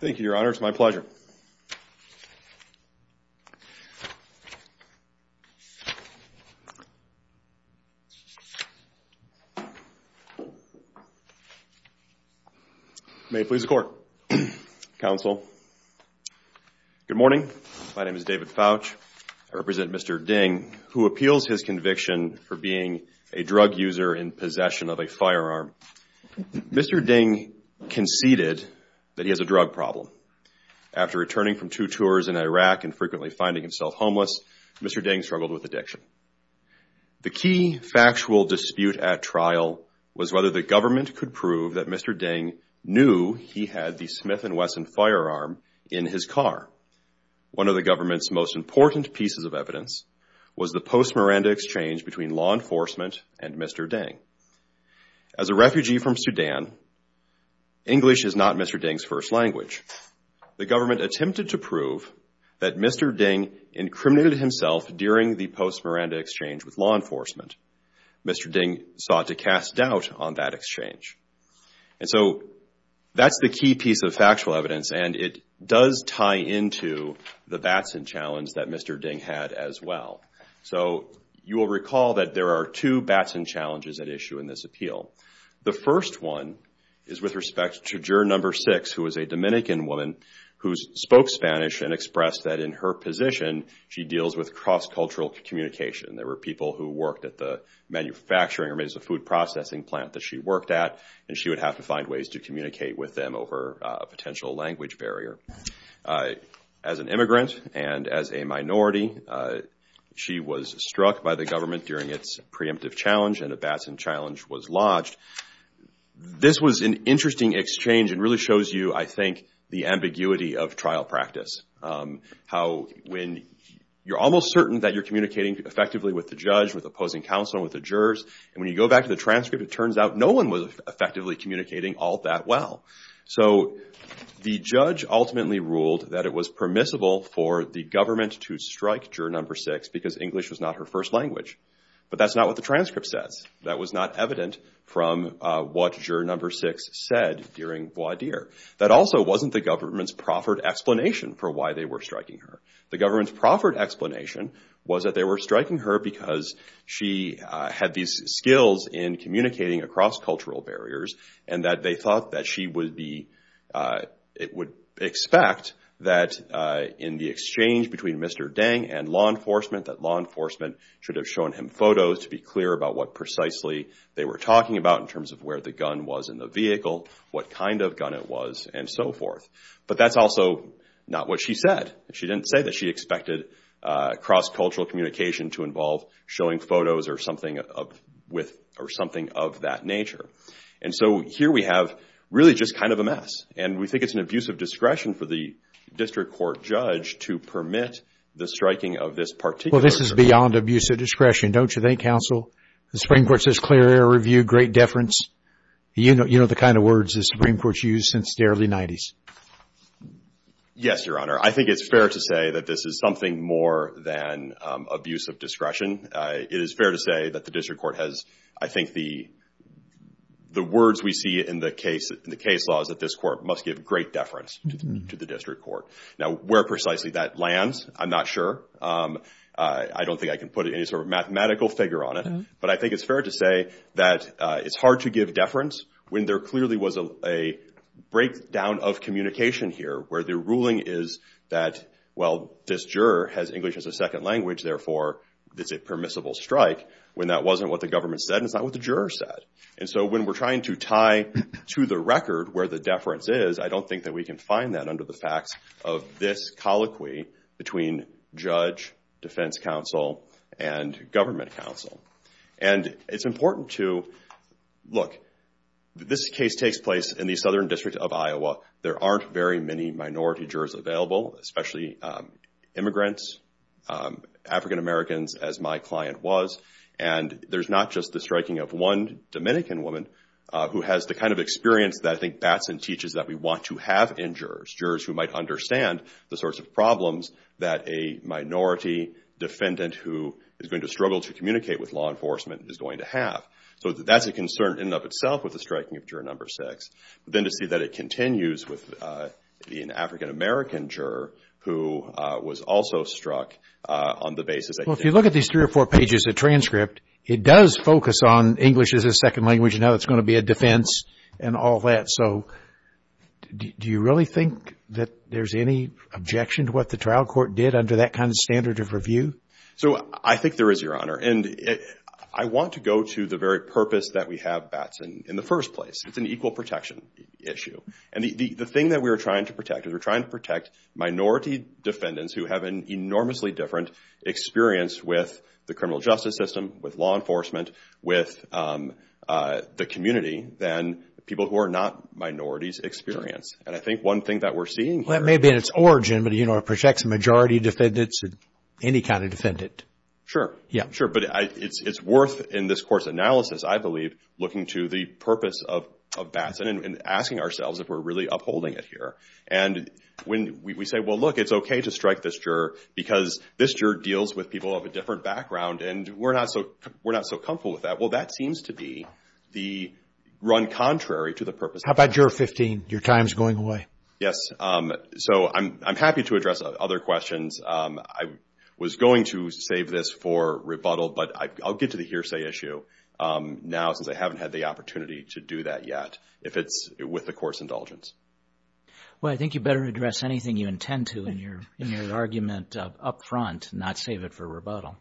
Thank you your honor, it's my pleasure. May it please the court. Counsel. Good morning. My name is David Fouch. I represent Mr. Deng, who appeals his conviction for being a drug user in possession of a firearm. Mr. Deng conceded that he has a drug problem. After returning from two tours in Iraq and frequently finding himself homeless, Mr. Deng struggled with addiction. The key factual dispute at trial was whether the government could prove that Mr. Deng knew he had the Smith & Wesson firearm in his car. One of the government's most important pieces of evidence was the post-Miranda exchange between law enforcement and Mr. Deng. As a refugee from Sudan, English is not Mr. Deng's first language. The government attempted to prove that Mr. Deng incriminated himself during the post-Miranda exchange with law enforcement. Mr. Deng sought to cast doubt on that exchange. And so that's the key piece of factual evidence. And it does tie into the Batson challenge that Mr. Deng had as well. So you will recall that there are two Batson challenges at issue in this appeal. The first one is with respect to juror number six, who is a Dominican woman who spoke Spanish and expressed that in her position, she deals with cross-cultural communication. There were people who worked at the manufacturing or maybe it was the food processing plant that she worked at. And she would have to find ways to communicate with them over a potential language barrier. As an immigrant and as a minority, she was struck by the government during its preemptive challenge and a Batson challenge was lodged. This was an interesting exchange and really shows you, I think, the ambiguity of trial practice. How when you're almost certain that you're communicating effectively with the judge, with opposing the transcript, it turns out no one was effectively communicating all that well. So the judge ultimately ruled that it was permissible for the government to strike juror number six because English was not her first language. But that's not what the transcript says. That was not evident from what juror number six said during voir dire. That also wasn't the government's proffered explanation for why they were striking her. The government's proffered explanation was that they were striking her because she had these skills in communicating across cultural barriers and that they thought that she would expect that in the exchange between Mr. Dang and law enforcement, that law enforcement should have shown him photos to be clear about what precisely they were talking about in terms of where the gun was in the vehicle, what kind of gun it was, and so forth. But that's also not what she said. She didn't say that she expected cross-cultural communication to involve showing photos or something of that nature. And so here we have really just kind of a mess. And we think it's an abuse of discretion for the district court judge to permit the striking of this particular Well, this is beyond abuse of discretion, don't you think, counsel? The Supreme Court says clear air review, great deference. You know the kind of words the Supreme Court's used since the early 90s. Yes, Your Honor. I think it's fair to say that this is something more than abuse of discretion. It is fair to say that the district court has, I think, the words we see in the case laws that this court must give great deference to the district court. Now, where precisely that lands, I'm not sure. I don't think I can put any sort of mathematical figure on it. But I think it's fair to say that it's hard to give deference when there clearly was a breakdown of communication here, where the ruling is that, well, this juror has English as a second language, therefore it's a permissible strike, when that wasn't what the government said and it's not what the juror said. And so when we're trying to tie to the record where the deference is, I don't think that we can find that under the facts of this colloquy between judge, defense counsel, and government counsel. And it's important to look. This case takes place in the southern district of Iowa. There aren't very many minority jurors available, especially immigrants, African-Americans as my client was. And there's not just the striking of one Dominican woman who has the kind of experience that I think Batson teaches that we want to have in jurors, jurors who might understand the sorts of problems that a minority defendant who is going to struggle to communicate with law enforcement is going to have. So that's a concern in and of itself with the striking of juror number six. But then to see that it continues with an African-American juror who was also struck on the basis that... Well, if you look at these three or four pages of transcript, it does focus on English as a second language and how it's going to be a defense and all that. So do you really think that there's any objection to what the trial court did under that kind of standard of review? So I think there is, Your Honor. And I want to go to the very purpose that we have Batson in the first place. It's an equal protection issue. And the thing that we are trying to protect is we're trying to protect minority defendants who have an enormously different experience with the criminal justice system, with law enforcement, with the community than people who are not minorities experience. And I think one thing that we're seeing here... It may be in its origin, but it protects majority defendants and any kind of defendant. Sure. Sure. But it's worth, in this court's analysis, I believe, looking to the purpose of Batson and asking ourselves if we're really upholding it here. And when we say, well, look, it's okay to strike this juror because this juror deals with people of a different background and we're not so comfortable with that. Well, that seems to be the run contrary to the purpose... How about juror 15? Your time's going away. Yes. So, I'm happy to address other questions. I was going to save this for rebuttal, but I'll get to the hearsay issue now since I haven't had the opportunity to do that yet if it's with the court's indulgence. Well, I think you better address anything you intend to in your argument up front, not save it for rebuttal.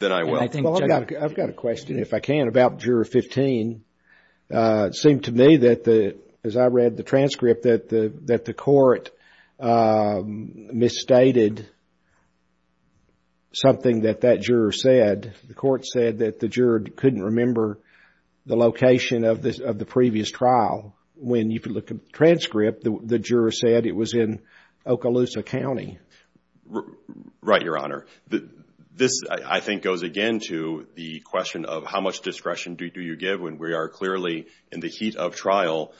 Then I will. And I think... Well, I've got a question, if I can, about juror 15. It seemed to me that, as I read the transcript, that the court misstated something that that juror said. The court said that the juror couldn't remember the location of the previous trial. When you could look at the transcript, the juror said it was in Okaloosa County. Right, Your Honor. This, I think, goes again to the question of how much discretion do you give when we are clearly, in the heat of trial,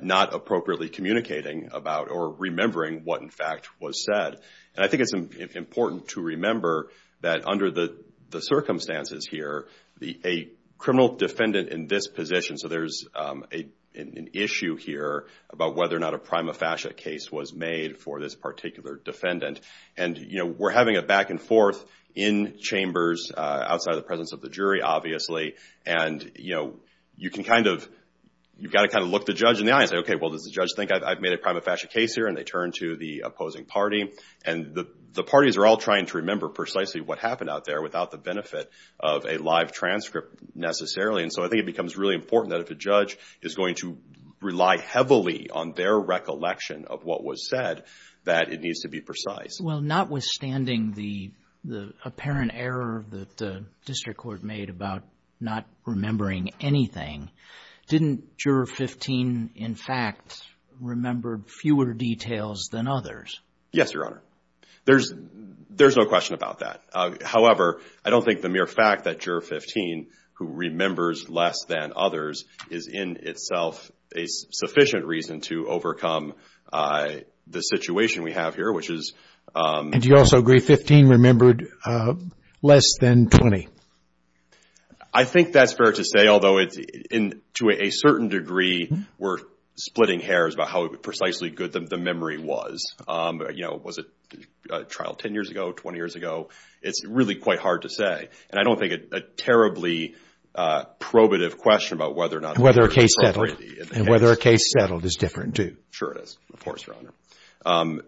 not appropriately communicating about or remembering what, in fact, was said. And I think it's important to remember that, under the circumstances here, a criminal defendant in this position, so there's an issue here about whether or not a prima facie case was made for this particular defendant. And we're having a back and forth in chambers, outside of the presence of the jury, obviously. And, you know, you can kind of, you've got to kind of look the judge in the eye and say, okay, well, does the judge think I've made a prima facie case here? And they turn to the opposing party. And the parties are all trying to remember precisely what happened out there without the benefit of a live transcript, necessarily. And so I think it becomes really important that if a judge is going to rely heavily on their recollection of what was said, that it needs to be precise. Well, notwithstanding the apparent error that the district court made about not remembering anything, didn't Juror 15, in fact, remember fewer details than others? Yes, Your Honor. There's no question about that. However, I don't think the mere fact that Juror 15, who remembers less than others, is in itself a sufficient reason to overcome the situation we have here, which is... And do you also agree 15 remembered less than 20? I think that's fair to say, although to a certain degree, we're splitting hairs about how precisely good the memory was. You know, was it a trial 10 years ago, 20 years ago? It's really quite hard to say. And I don't think a terribly probative question about whether a case settled is different, too. Sure it is, of course, Your Honor.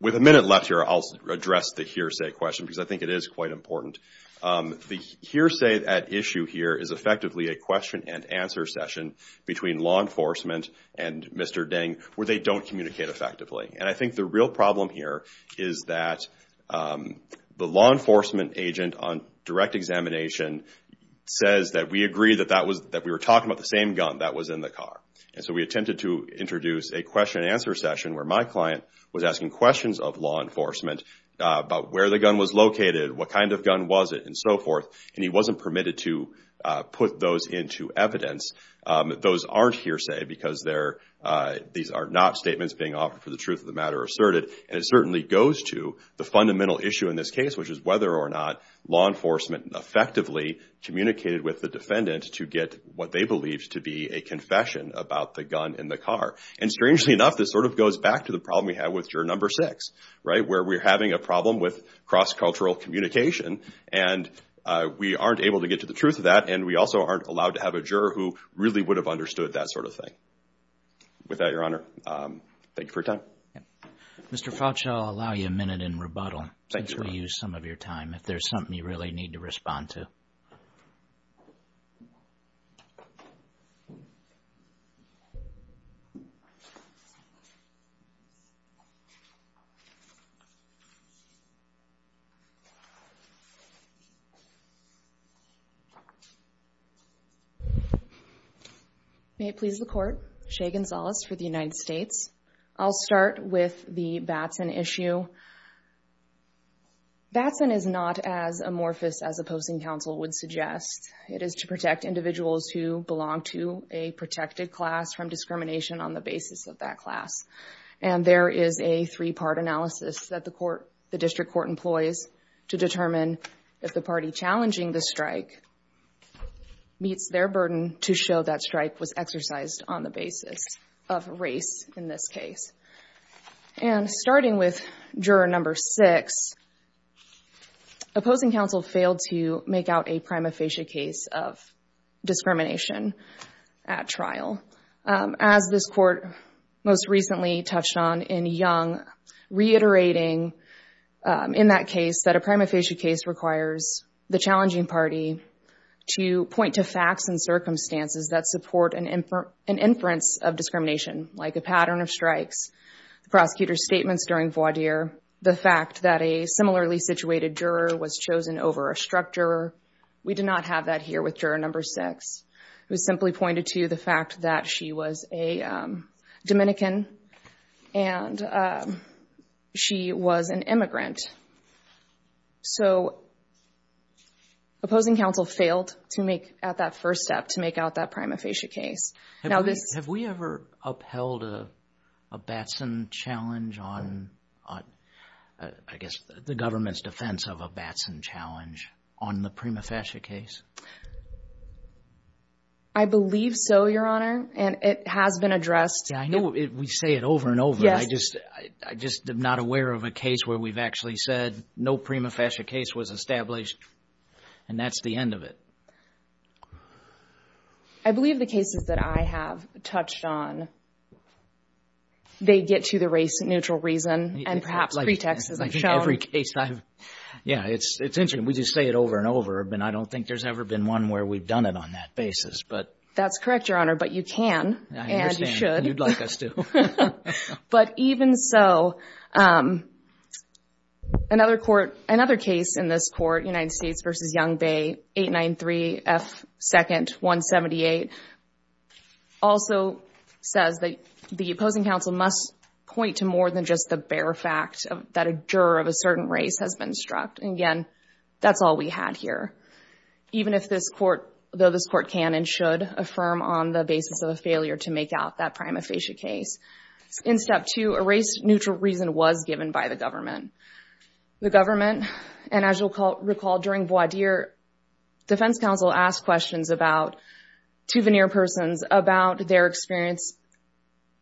With a minute left here, I'll address the hearsay question because I think it is quite important. The hearsay at issue here is effectively a question and answer session between law enforcement and Mr. Ding where they don't communicate effectively. And I think the real problem here is that the law enforcement agent on direct examination says that we agree that we were talking about the same gun that was in the car. And so we attempted to introduce a question and answer session where my client was asking questions of law enforcement about where the gun was located, what kind of gun was it, and so forth. And he wasn't permitted to put those into evidence. Those aren't hearsay because these are not statements being offered for the truth of the matter asserted. And it effectively communicated with the defendant to get what they believed to be a confession about the gun in the car. And strangely enough, this sort of goes back to the problem we have with Juror No. 6, right, where we're having a problem with cross-cultural communication, and we aren't able to get to the truth of that, and we also aren't allowed to have a juror who really would have understood that sort of thing. With that, Your Honor, thank you for your time. Mr. Fauci, I'll allow you a minute in rebuttal. Thanks, Your Honor. If there's something you really need to respond to. May it please the Court. Shea Gonzales for the United States. I'll start with the Batson issue. Batson is not as amorphous as a posting counsel would suggest. It is to protect individuals who belong to a protected class from discrimination on the basis of that class. And there is a three-part analysis that the District Court employs to determine if the party challenging the strike meets their burden to show that strike was exercised on the basis of race in this case. And starting with Juror No. 6, opposing counsel failed to make out a prima facie case of discrimination at trial. As this Court most recently touched on in Young, reiterating in that case that a prima facie case requires the challenging party to point to facts and circumstances that support an inference of discrimination, like a pattern of strikes, the prosecutor's statements during voir dire, the fact that a similarly situated juror was chosen over a struck juror. We did not have that here with Juror No. 6. It was simply pointed to the fact that she was a Dominican and she was an immigrant. So opposing counsel failed to make at that first step to make out that prima facie case. Have we ever upheld a Batson challenge on, I guess, the government's defense of a Batson challenge on the prima facie case? I believe so, Your Honor, and it has been addressed. I know we say it over and over, I just am not aware of a case where we've actually said no prima facie case was established and that's the end of it. I believe the cases that I have touched on, they get to the race-neutral reason and perhaps pretext as I've shown. Yeah, it's interesting. We just say it over and over, but I don't think there's ever been one where we've done it on that basis. That's correct, Your Honor, but you can and you should. I understand. You'd like us to. But even so, another case in this court, United States v. Young Bay, 893 F. 2nd. 178, also says that the opposing counsel must point to more than just the bare fact that a juror of a certain race has been struck. Again, that's all we had here. Even if this court, though this court can and should affirm on the basis of a failure to make out that prima facie case. In step two, a race-neutral reason was given by the government. The government, and as you'll recall, during voir dire, defense counsel asked questions to veneer persons about their experience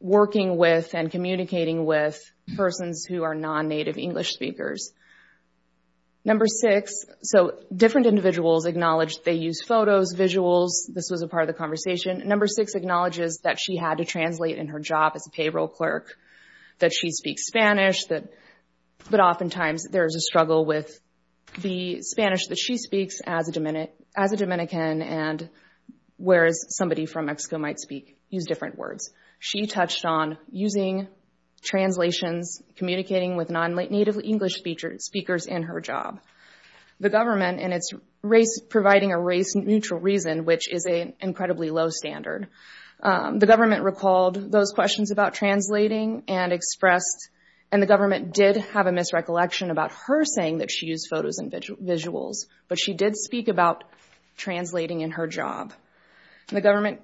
working with and communicating with persons who are non-native English speakers. Number six, so different individuals acknowledge they use photos, visuals, this was a part of the job as a payroll clerk, that she speaks Spanish, but oftentimes there's a struggle with the Spanish that she speaks as a Dominican and whereas somebody from Mexico might speak, use different words. She touched on using translations, communicating with non-native English speakers in her job. The government, and it's providing a race-neutral reason, which is an incredibly low standard. The government recalled those questions about translating and expressed, and the government did have a misrecollection about her saying that she used photos and visuals, but she did speak about translating in her job. The government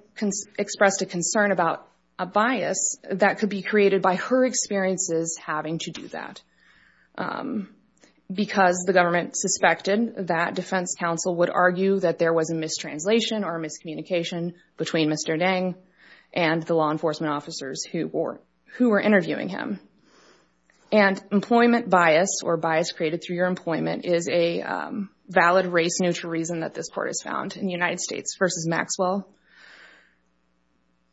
expressed a concern about a bias that could be created by her experiences having to do that because the government suspected that defense counsel would argue that there was a mistranslation or miscommunication between Mr. Dang and the law enforcement officers who were interviewing him. And employment bias or bias created through your employment is a valid race-neutral reason that this court has found in the United States versus Maxwell.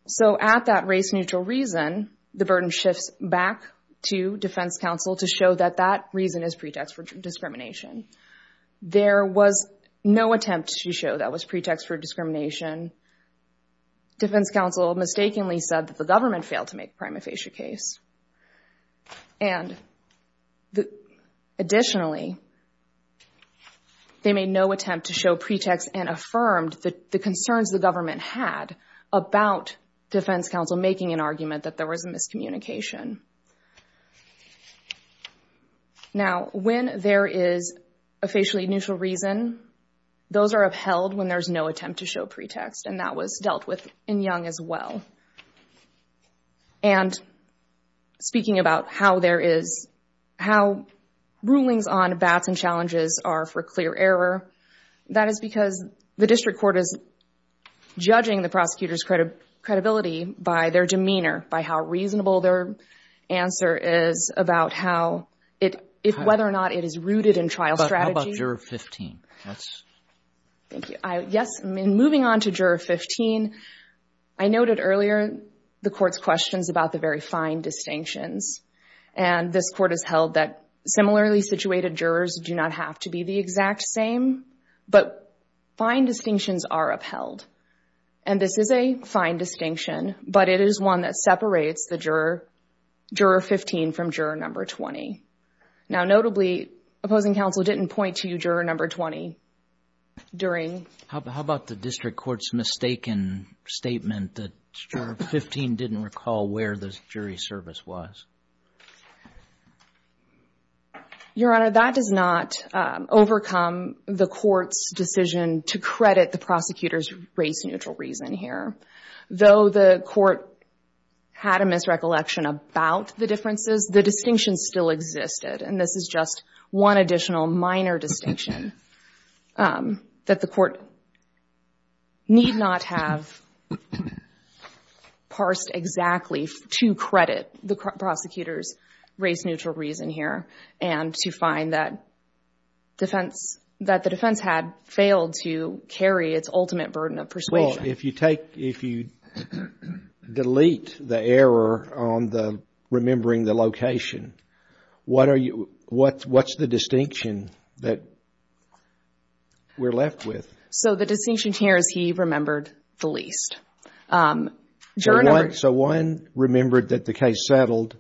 So at that race-neutral reason, the burden shifts back to defense counsel to show that that reason is pretext for discrimination. There was no attempt to show that was pretext for discrimination. Defense counsel mistakenly said that the government failed to make a prima facie case. And additionally, they made no attempt to show pretext and affirmed the concerns the government had about defense counsel making an argument that there was a miscommunication. Now, when there is a facially neutral reason, those are upheld when there's no attempt to show pretext, and that was dealt with in Young as well. And speaking about how rulings on bats and challenges are for clear error, that is because the district court is judging the prosecutor's credibility by their demeanor, by how reasonable their answer is about whether or not it is rooted in trial strategy. But how about Juror 15? Thank you. Yes, moving on to Juror 15, I noted earlier the court's questions about the very fine distinctions. And this court has held that similarly situated jurors do not have to be the exact same, but fine distinctions are upheld. And this is a fine distinction, but it is one that separates the Juror 15 from Juror No. 20. Now, notably, opposing counsel didn't point to you Juror No. 20 during... How about the district court's mistaken statement that Juror 15 didn't recall where the jury service was? Your Honor, that does not overcome the court's decision to credit the prosecutor's race-neutral reason here. Though the court had a misrecollection about the differences, the distinction still existed. And this is just one additional minor distinction that the court need not have parsed exactly to credit the prosecutor's race-neutral reason here and to find that defense, that the defense had failed to carry its ultimate burden of persuasion. If you take, if you delete the error on the remembering the location, what are you, what's the distinction that we're left with? So the distinction here is he remembered the least. So one remembered that the case settled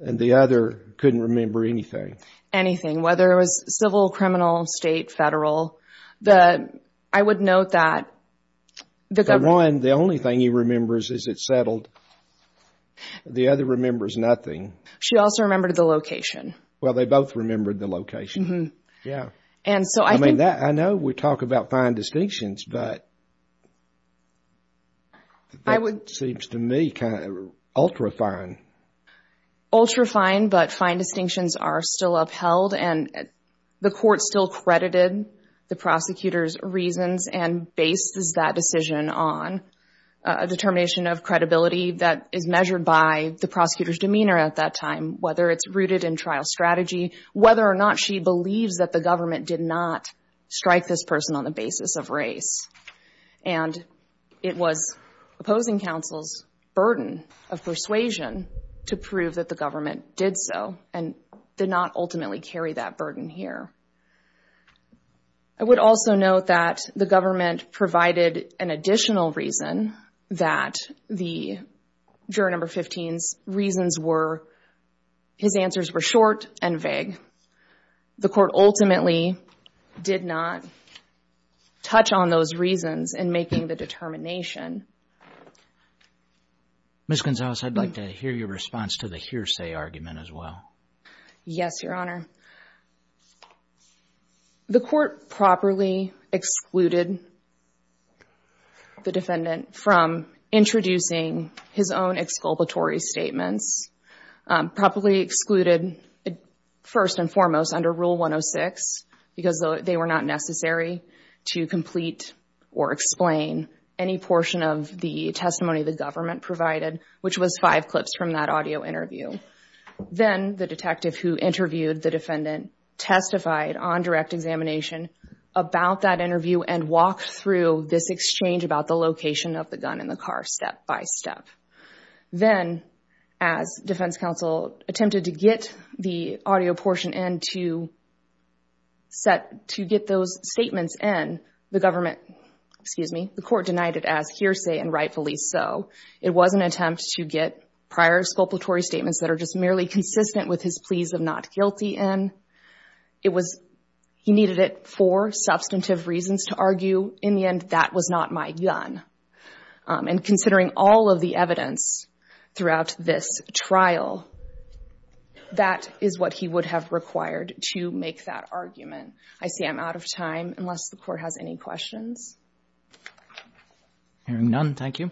and the other couldn't remember anything? Anything, whether it was civil, criminal, state, federal, the, I would note that... For one, the only thing he remembers is it settled. The other remembers nothing. She also remembered the location. Well, they both remembered the location. Yeah. And so I think... I know we talk about fine distinctions, but that seems to me kind of ultra-fine. Ultra-fine, but fine distinctions are still upheld and the court still credited the prosecutor's reasons and bases that decision on a determination of credibility that is measured by the prosecutor's demeanor at that time, whether it's rooted in trial strategy, whether or not she believes that the government did not strike this person on the basis of race. And it was opposing counsel's burden of persuasion to prove that the government did so and did not ultimately carry that burden here. I would also note that the government provided an additional reason that the juror number 15's reasons were, his answers were short and vague. The court ultimately did not touch on those reasons in making the determination. Ms. Gonzalez, I'd like to hear your response to the hearsay argument as well. Yes, Your Honor. The court properly excluded the defendant from introducing his own exculpatory statements, properly excluded first and foremost under Rule 106, because they were not necessary to complete or explain any portion of the testimony the government provided, which was five clips from that audio interview. Then, the detective who interviewed the defendant testified on direct examination about that interview and walked through this exchange about the location of the gun in the car, step by step. Then, as defense counsel attempted to get the audio portion and to set, to get those statements in, the government, excuse me, the court denied it as hearsay and rightfully so. It was an attempt to get prior exculpatory statements that are just merely consistent with his pleas of not guilty in. It was, he needed it for substantive reasons to argue. In the end, that was not my gun. And considering all of the evidence throughout this trial, that is what he would have required to make that argument. I see I'm out of time, unless the court has any questions. Hearing none, thank you.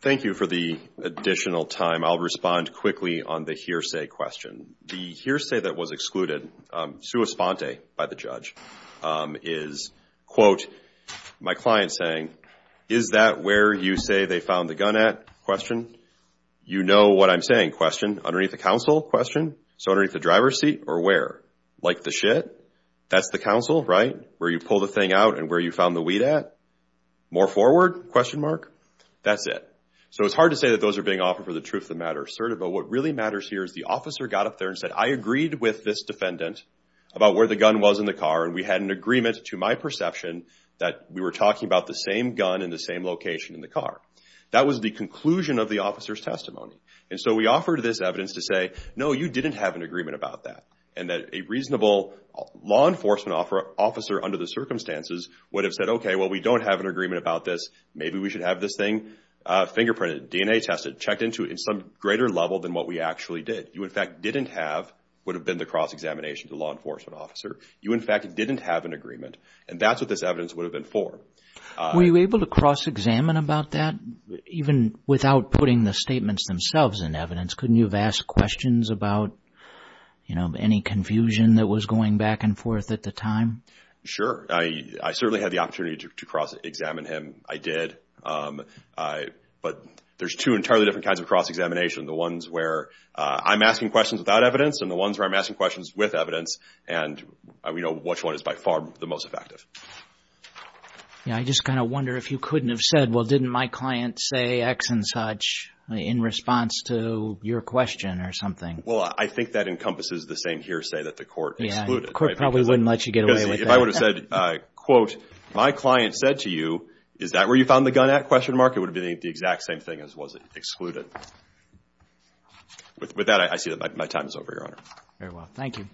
Thank you for the additional time. I'll respond quickly on the hearsay question. The hearsay that was excluded, sua sponte by the judge, is, quote, my client saying, is that where you say they found the gun at? Question, you know what I'm saying. Question, underneath the counsel? Question, so underneath the driver's seat or where? Like the shit? That's the counsel, right? Where you pull the thing out and where you found the weed at? More forward? Question mark? That's it. So it's hard to say that those are being offered for the truth of the matter asserted, but what really matters here is the officer got up there and said, I agreed with this defendant about where the gun was in the car, and we had an agreement to my perception that we were talking about the same gun in the same location in the car. That was the conclusion of the officer's testimony, and so we offered this evidence to say, no, you didn't have an agreement about that, and that a reasonable law enforcement officer, under the circumstances, would have said, okay, well, we don't have an agreement about this. Maybe we should have this thing fingerprinted, DNA tested, checked into in some greater level than what we actually did. You, in fact, didn't have, would have been the cross-examination to the law enforcement officer. You, in fact, didn't have an agreement, and that's what this evidence would have been for. Were you able to cross-examine about that, even without putting the statements themselves in evidence? Couldn't you have asked questions about, you know, any confusion that was going back and forth at the time? Sure. I certainly had the opportunity to cross-examine him. I did, but there's two entirely different kinds of cross-examination. The ones where I'm asking questions without evidence, and the ones where I'm asking questions with evidence, and we know which one is by far the most effective. Yeah, I just kind of wonder if you couldn't have said, well, didn't my client say X and such in response to your question or something? Well, I think that encompasses the same hearsay that the court excluded. The court probably wouldn't let you get away with that. If I would have said, quote, my client said to you, is that where you found the gun at, question mark, it would have been the exact same thing as was it excluded. With that, I see that my time is over, Your Honor. Very well. Thank you.